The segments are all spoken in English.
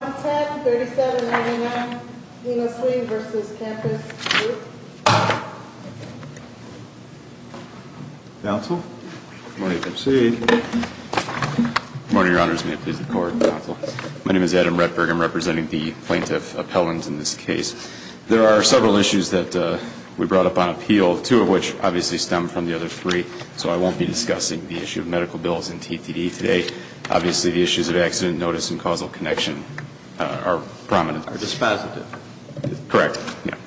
Contact, 37-99, Lena Sween v. Campus Group Counsel? Good morning. Proceed. Good morning, Your Honors. May it please the Court. Counsel. My name is Adam Rettberg. I'm representing the plaintiff appellant in this case. There are several issues that we brought up on appeal, two of which obviously stem from the other three, so I won't be discussing the issue of medical bills and TTD today. Obviously, the issues of accident notice and causal connection are prominent. Are dispositive. Correct.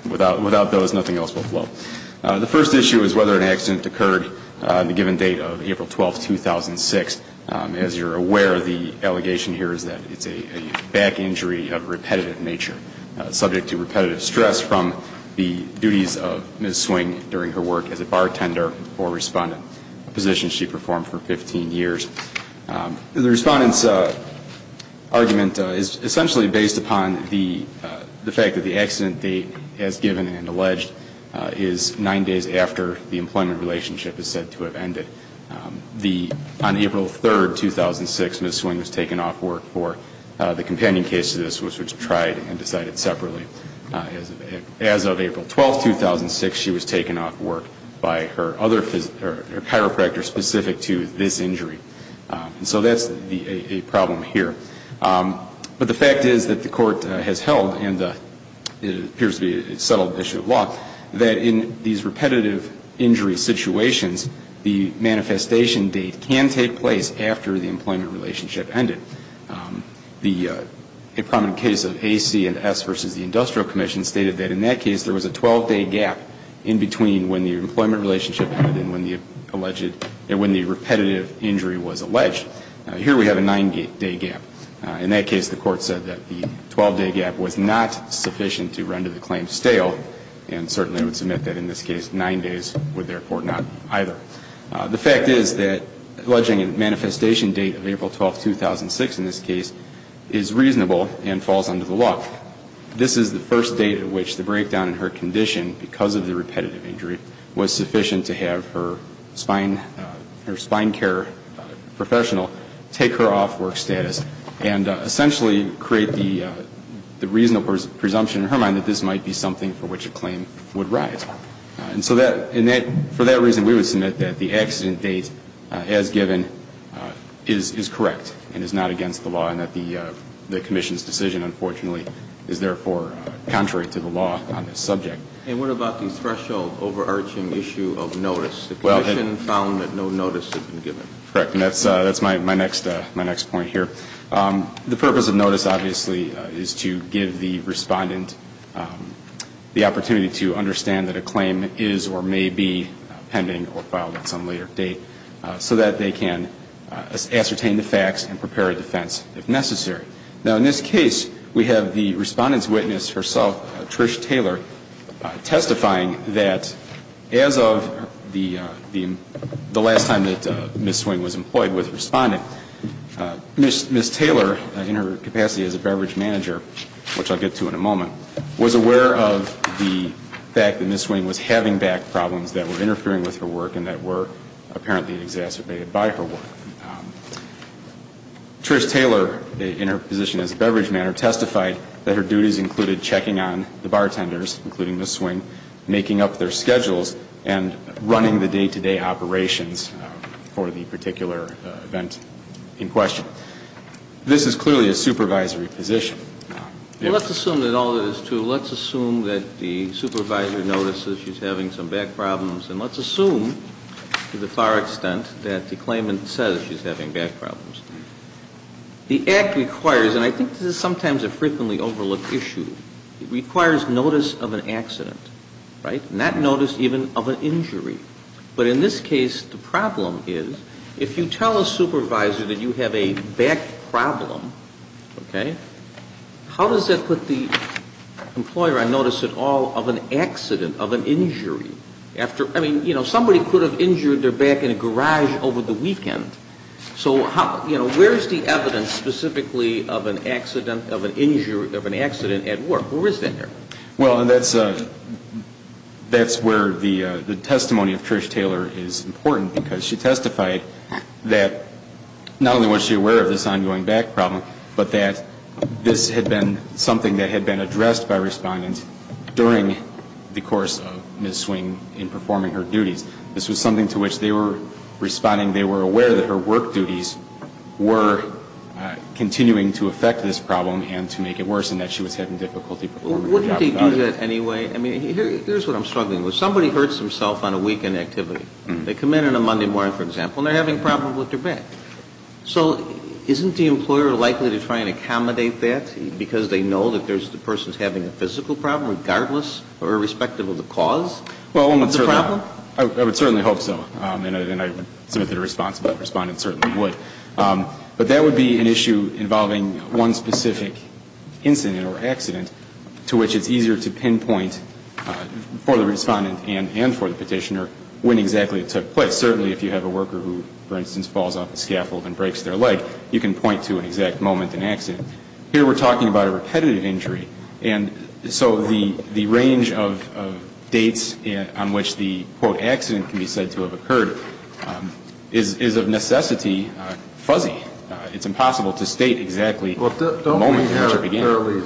Without those, nothing else will flow. The first issue is whether an accident occurred on the given date of April 12, 2006. As you're aware, the allegation here is that it's a back injury of a repetitive nature, subject to repetitive stress from the duties of Ms. Swing during her work as a bartender or respondent, a position she performed for 15 years. The respondent's argument is essentially based upon the fact that the accident date as given and alleged is nine days after the employment relationship is said to have ended. On April 3, 2006, Ms. Swing was taken off work for the companion case to this, which was tried and decided separately. As of April 12, 2006, she was taken off work by her other, her chiropractor specific to this injury. And so that's a problem here. But the fact is that the Court has held, and it appears to be a settled issue of law, that in these repetitive injury situations, the manifestation date can take place after the employment relationship ended. A prominent case of A, C, and S versus the Industrial Commission stated that in that case, there was a 12-day gap in between when the employment relationship ended and when the alleged, when the repetitive injury was alleged. Here we have a nine-day gap. In that case, the Court said that the 12-day gap was not sufficient to render the claim stale and certainly would submit that in this case, nine days would therefore not either. The fact is that alleging a manifestation date of April 12, 2006 in this case is reasonable and falls under the law. This is the first date at which the breakdown in her condition because of the repetitive injury was sufficient to have her spine, her spine care professional take her off work status and essentially create the reasonable presumption in her mind that this might be something for which a claim would rise. And so for that reason, we would submit that the accident date as given is correct and is not against the law and that the Commission's decision, unfortunately, is therefore contrary to the law on this subject. And what about the threshold overarching issue of notice? The Commission found that no notice had been given. Correct. And that's my next point here. The purpose of notice, obviously, is to give the Respondent the opportunity to understand that a claim is or may be pending or filed at some later date so that they can ascertain the facts and prepare a defense if necessary. Now, in this case, we have the Respondent's witness herself, Trish Taylor, testifying that as of the last time that Ms. Swing was employed with Respondent, Ms. Taylor, in her capacity as a beverage manager, which I'll get to in a moment, was aware of the fact that Ms. Swing was having back problems that were interfering with her work and that were apparently exacerbated by her work. Trish Taylor, in her position as a beverage manager, testified that her duties included checking on the bartenders, including Ms. Swing, making up their schedules and running the day-to-day operations for the particular event. In question, this is clearly a supervisory position. Well, let's assume that all of this is true. Let's assume that the supervisor notices she's having some back problems, and let's assume to the far extent that the claimant says she's having back problems. The Act requires, and I think this is sometimes a frequently overlooked issue, it requires notice of an accident, right, not notice even of an injury. But in this case, the problem is if you tell a supervisor that you have a back problem, okay, how does that put the employer on notice at all of an accident, of an injury? I mean, you know, somebody could have injured their back in a garage over the weekend. So, you know, where is the evidence specifically of an accident, of an injury, of an accident at work? Where is that there? Well, that's where the testimony of Trish Taylor is important, because she testified that not only was she aware of this ongoing back problem, but that this had been something that had been addressed by respondents during the course of Ms. Swing in performing her duties. This was something to which they were responding, they were aware that her work duties were continuing to affect this problem and to make it worse, and that she was having difficulty performing her job. But wouldn't they do that anyway? I mean, here's what I'm struggling with. Somebody hurts himself on a weekend activity. They come in on a Monday morning, for example, and they're having a problem with their back. So isn't the employer likely to try and accommodate that because they know that there's the person's having a physical problem, regardless or irrespective of the cause of the problem? Well, I would certainly hope so, and I would submit that a responsible respondent certainly would. But that would be an issue involving one specific incident or accident to which it's easier to pinpoint for the respondent and for the petitioner when exactly it took place. Certainly if you have a worker who, for instance, falls off a scaffold and breaks their leg, you can point to an exact moment in the accident. Here we're talking about a repetitive injury, and so the range of dates on which the, quote, accident can be said to have occurred is of necessity fuzzy. It's impossible to state exactly the moment in which it began. Well, don't we have it fairly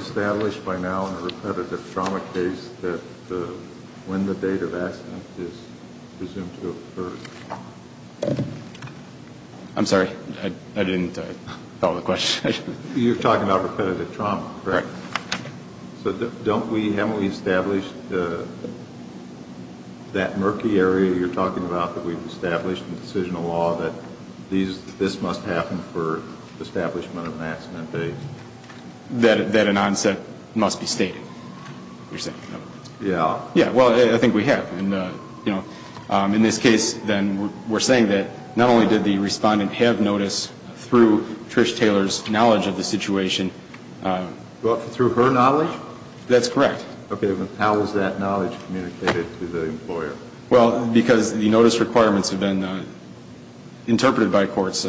established by now in a repetitive trauma case that when the date of accident is presumed to have occurred? I'm sorry. I didn't follow the question. You're talking about repetitive trauma, correct? Right. So don't we, haven't we established that murky area you're talking about that we've established in decisional law that this must happen for the establishment of an accident date? That an onset must be stated, you're saying? Yeah. Yeah, well, I think we have. And, you know, in this case then we're saying that not only did the respondent have notice through Trish Taylor's knowledge of the situation. Through her knowledge? That's correct. Okay, but how is that knowledge communicated to the employer? Well, because the notice requirements have been interpreted by courts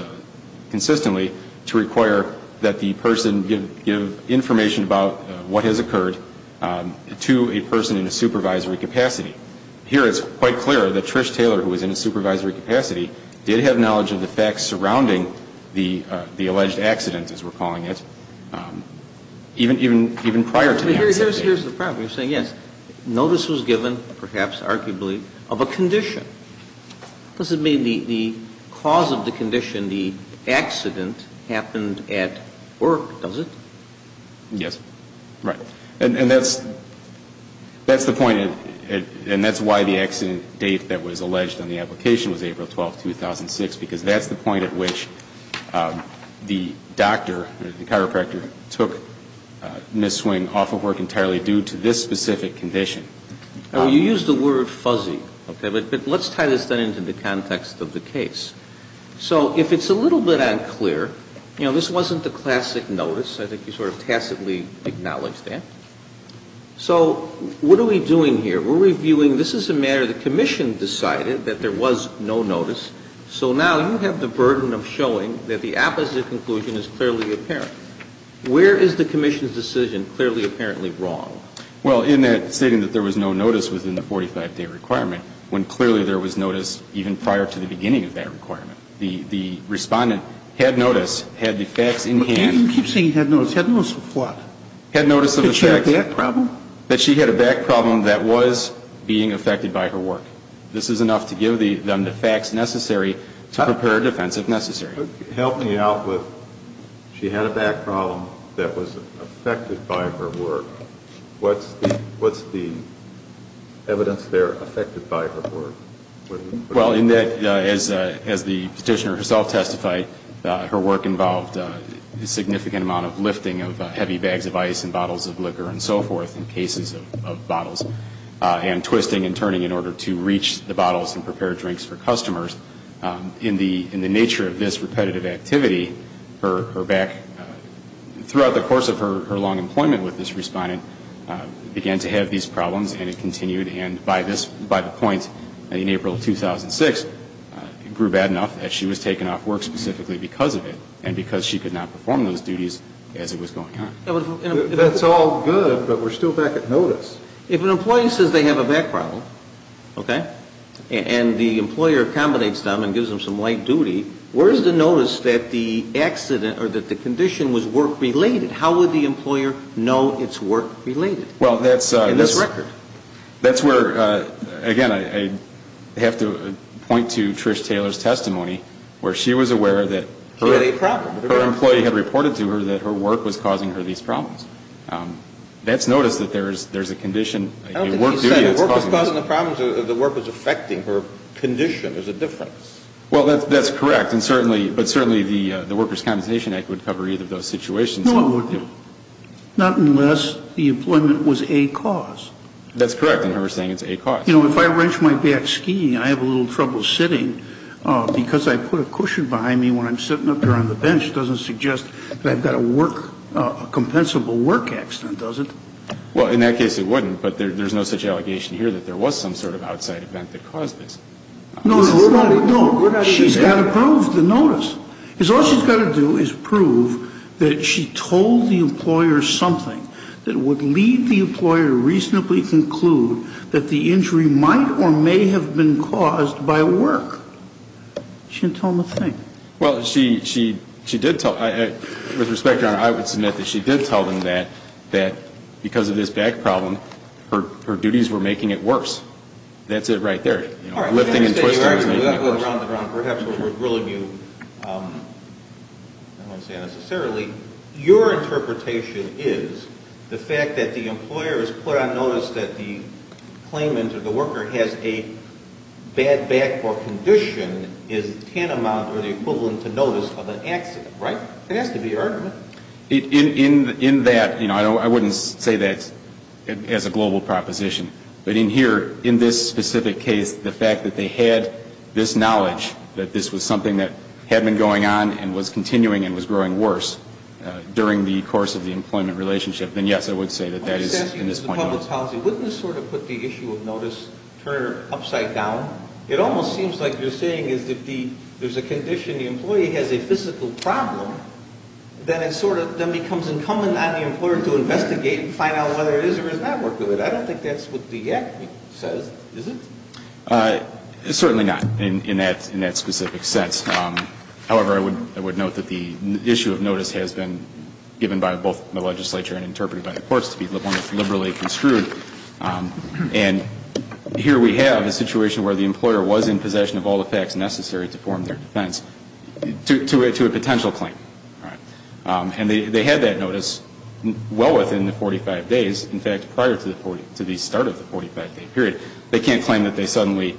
consistently to require that the person give information about what has occurred to a person in a supervisory capacity. Here it's quite clear that Trish Taylor, who was in a supervisory capacity, did have knowledge of the facts surrounding the alleged accident, as we're calling it, even prior to the accident. Here's the problem. You're saying, yes, notice was given, perhaps arguably, of a condition. Does it mean the cause of the condition, the accident, happened at work, does it? Yes. Right. And that's the point, and that's why the accident date that was alleged on the application was April 12th, 2006, because that's the point at which the doctor, the chiropractor, took Ms. Swing off of work entirely due to this specific condition. Well, you used the word fuzzy, okay? But let's tie this then into the context of the case. So if it's a little bit unclear, you know, this wasn't the classic notice. I think you sort of tacitly acknowledged that. So what are we doing here? We're reviewing, this is a matter the Commission decided that there was no notice. So now you have the burden of showing that the opposite conclusion is clearly apparent. Where is the Commission's decision clearly apparently wrong? Well, in that stating that there was no notice within the 45-day requirement, when clearly there was notice even prior to the beginning of that requirement. The Respondent had notice, had the facts in hand. You keep saying had notice. Had notice of what? Had notice of the facts. Did she have a back problem? That she had a back problem that was being affected by her work. This is enough to give them the facts necessary to prepare a defense if necessary. Help me out with she had a back problem that was affected by her work. What's the evidence there affected by her work? Well, in that, as the Petitioner herself testified, her work involved a significant amount of lifting of heavy bags of ice and bottles of liquor and so forth and twisting and turning in order to reach the bottles and prepare drinks for customers. In the nature of this repetitive activity, her back, throughout the course of her long employment with this Respondent, began to have these problems and it continued. And by the point in April of 2006, it grew bad enough that she was taken off work specifically because of it and because she could not perform those duties as it was going on. That's all good, but we're still back at notice. If an employee says they have a back problem, okay, and the employer accommodates them and gives them some light duty, where is the notice that the accident or that the condition was work-related? How would the employer know it's work-related in this record? Well, that's where, again, I have to point to Trish Taylor's testimony, where she was aware that her employee had reported to her that her work was causing her these problems. That's notice that there's a condition. I don't think he said the work was causing the problems. The work was affecting her condition. There's a difference. Well, that's correct. But certainly the Workers' Compensation Act would cover either of those situations. Well, not unless the employment was a cause. That's correct. And her saying it's a cause. You know, if I wrench my back skiing, I have a little trouble sitting because I put a cushion behind me when I'm sitting up there on the bench. Doesn't suggest that I've got a work, a compensable work accident, does it? Well, in that case it wouldn't. But there's no such allegation here that there was some sort of outside event that caused this. No, no, no. She's got to prove the notice. Because all she's got to do is prove that she told the employer something that would lead the employer to reasonably conclude that the injury might or may have been caused by work. She didn't tell them a thing. Well, she did tell them. With respect, Your Honor, I would submit that she did tell them that because of this back problem, her duties were making it worse. That's it right there. You know, lifting and twisting was making it worse. All right. I understand you're arguing around the ground. Perhaps what we're ruling you, I don't want to say unnecessarily, your interpretation is the fact that the employer has put on notice that the claimant or the worker has a bad back or condition is a tantamount or the equivalent to notice of an accident, right? It has to be your argument. In that, you know, I wouldn't say that as a global proposition. But in here, in this specific case, the fact that they had this knowledge that this was something that had been going on and was continuing and was growing worse during the course of the employment relationship, then, yes, I would say that that is in this point of view. Let me just ask you, Mr. Publitz-Halsey, wouldn't this sort of put the issue of notice turn upside down? It almost seems like you're saying is if there's a condition, the employee has a physical problem, then it sort of then becomes incumbent on the employer to investigate and find out whether it is or is not workable. I don't think that's what the Act says, is it? It's certainly not in that specific sense. However, I would note that the issue of notice has been given by both the legislature and interpreted by the courts to be one that's liberally construed. And here we have a situation where the employer was in possession of all the facts necessary to form their defense to a potential claim. And they had that notice well within the 45 days, in fact, prior to the start of the 45-day period. They can't claim that they suddenly,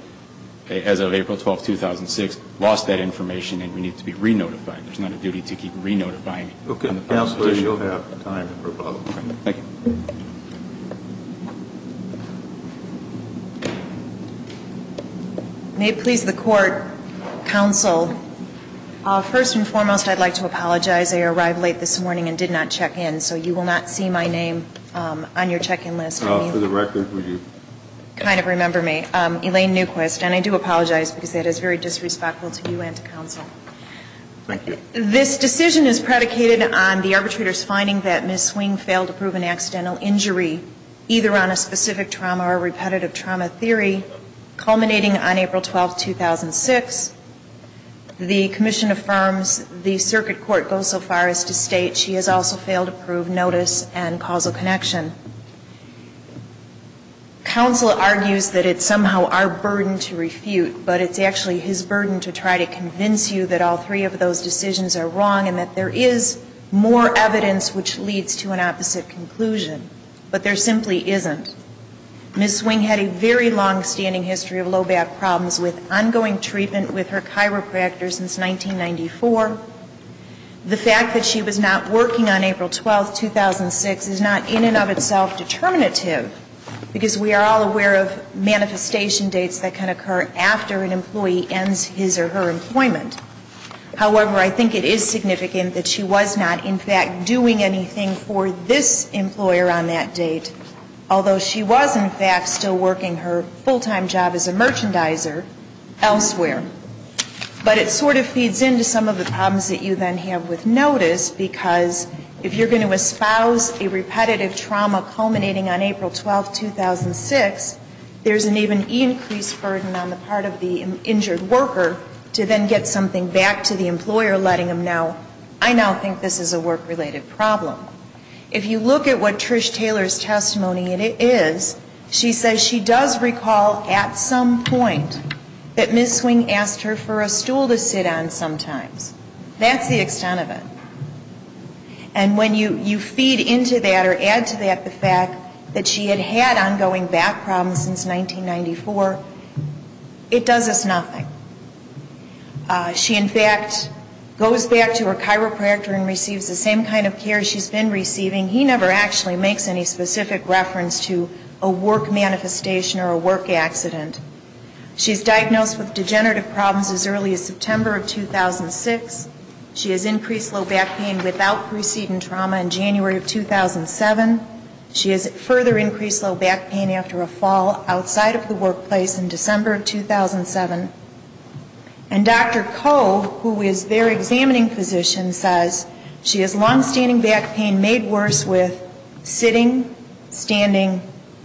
as of April 12th, 2006, lost that information and we need to be re-notified. There's not a duty to keep re-notifying. Okay. Counsel, you'll have time for follow-up. Thank you. May it please the Court. Counsel, first and foremost, I'd like to apologize. I arrived late this morning and did not check in, so you will not see my name on your check-in list. For the record, will you? Kind of remember me. Elaine Newquist. And I do apologize because that is very disrespectful to you and to counsel. Thank you. This decision is predicated on the arbitrator's finding that Ms. Swing failed to prove an accidental injury, either on a specific trauma or repetitive trauma theory, culminating on April 12th, 2006. The commission affirms the circuit court goes so far as to state she has also failed to prove notice and causal connection. Counsel argues that it's somehow our burden to refute, but it's actually his burden to try to convince you that all three of those decisions are wrong and that there is more evidence which leads to an opposite conclusion. But there simply isn't. Ms. Swing had a very longstanding history of low back problems with ongoing treatment with her chiropractor since 1994. The fact that she was not working on April 12th, 2006, is not in and of itself determinative, because we are all aware of manifestation dates that can occur after an employee ends his or her employment. However, I think it is significant that she was not, in fact, doing anything for this employer on that date, although she was, in fact, still working her full-time job as a merchandiser elsewhere. But it sort of feeds into some of the problems that you then have with notice, because if you're going to espouse a repetitive trauma culminating on April 12th, 2006, there's an even increased burden on the part of the injured worker to then get something back to the employer, letting them know, I now think this is a work-related problem. If you look at what Trish Taylor's testimony is, she says she does recall at some point that Ms. Swing asked her for a stool to sit on sometimes. That's the extent of it. And when you feed into that or add to that the fact that she had had ongoing back problems since 1994, it does us nothing. She, in fact, goes back to her chiropractor and receives the same kind of care she's been receiving. He never actually makes any specific reference to a work manifestation or a work accident. She's diagnosed with degenerative problems as early as September of 2006. She has increased low back pain without preceding trauma in January of 2007. She has further increased low back pain after a fall outside of the workplace in December of 2007. And Dr. Koh, who is their examining physician, says she has longstanding back pain made worse with sitting, standing,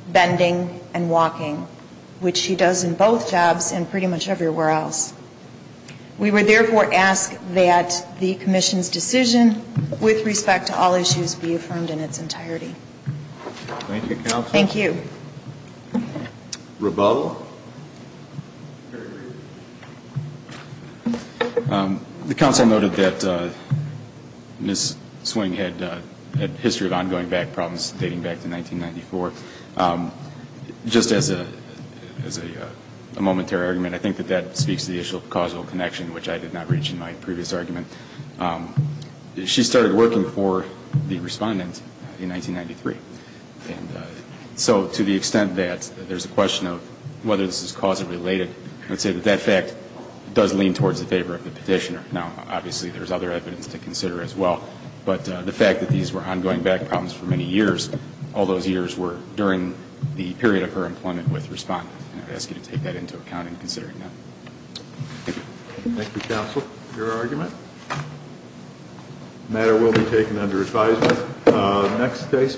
bending, and walking, which she does in both jobs and pretty much everywhere else. We would therefore ask that the commission's decision with respect to all issues be affirmed in its entirety. Thank you, Counsel. Thank you. Rebuttal. Rebuttal. The counsel noted that Ms. Swing had a history of ongoing back problems dating back to 1994. Just as a momentary argument, I think that that speaks to the issue of causal connection, which I did not reach in my previous argument. She started working for the respondent in 1993. And so to the extent that there's a question of whether this is causally related, I would say that that fact does lean towards the favor of the petitioner. Now, obviously, there's other evidence to consider as well. But the fact that these were ongoing back problems for many years, all those years were during the period of her employment with respondents. And I'd ask you to take that into account in considering that. Thank you. Thank you, Counsel. Your argument? The matter will be taken under advisement. Next case.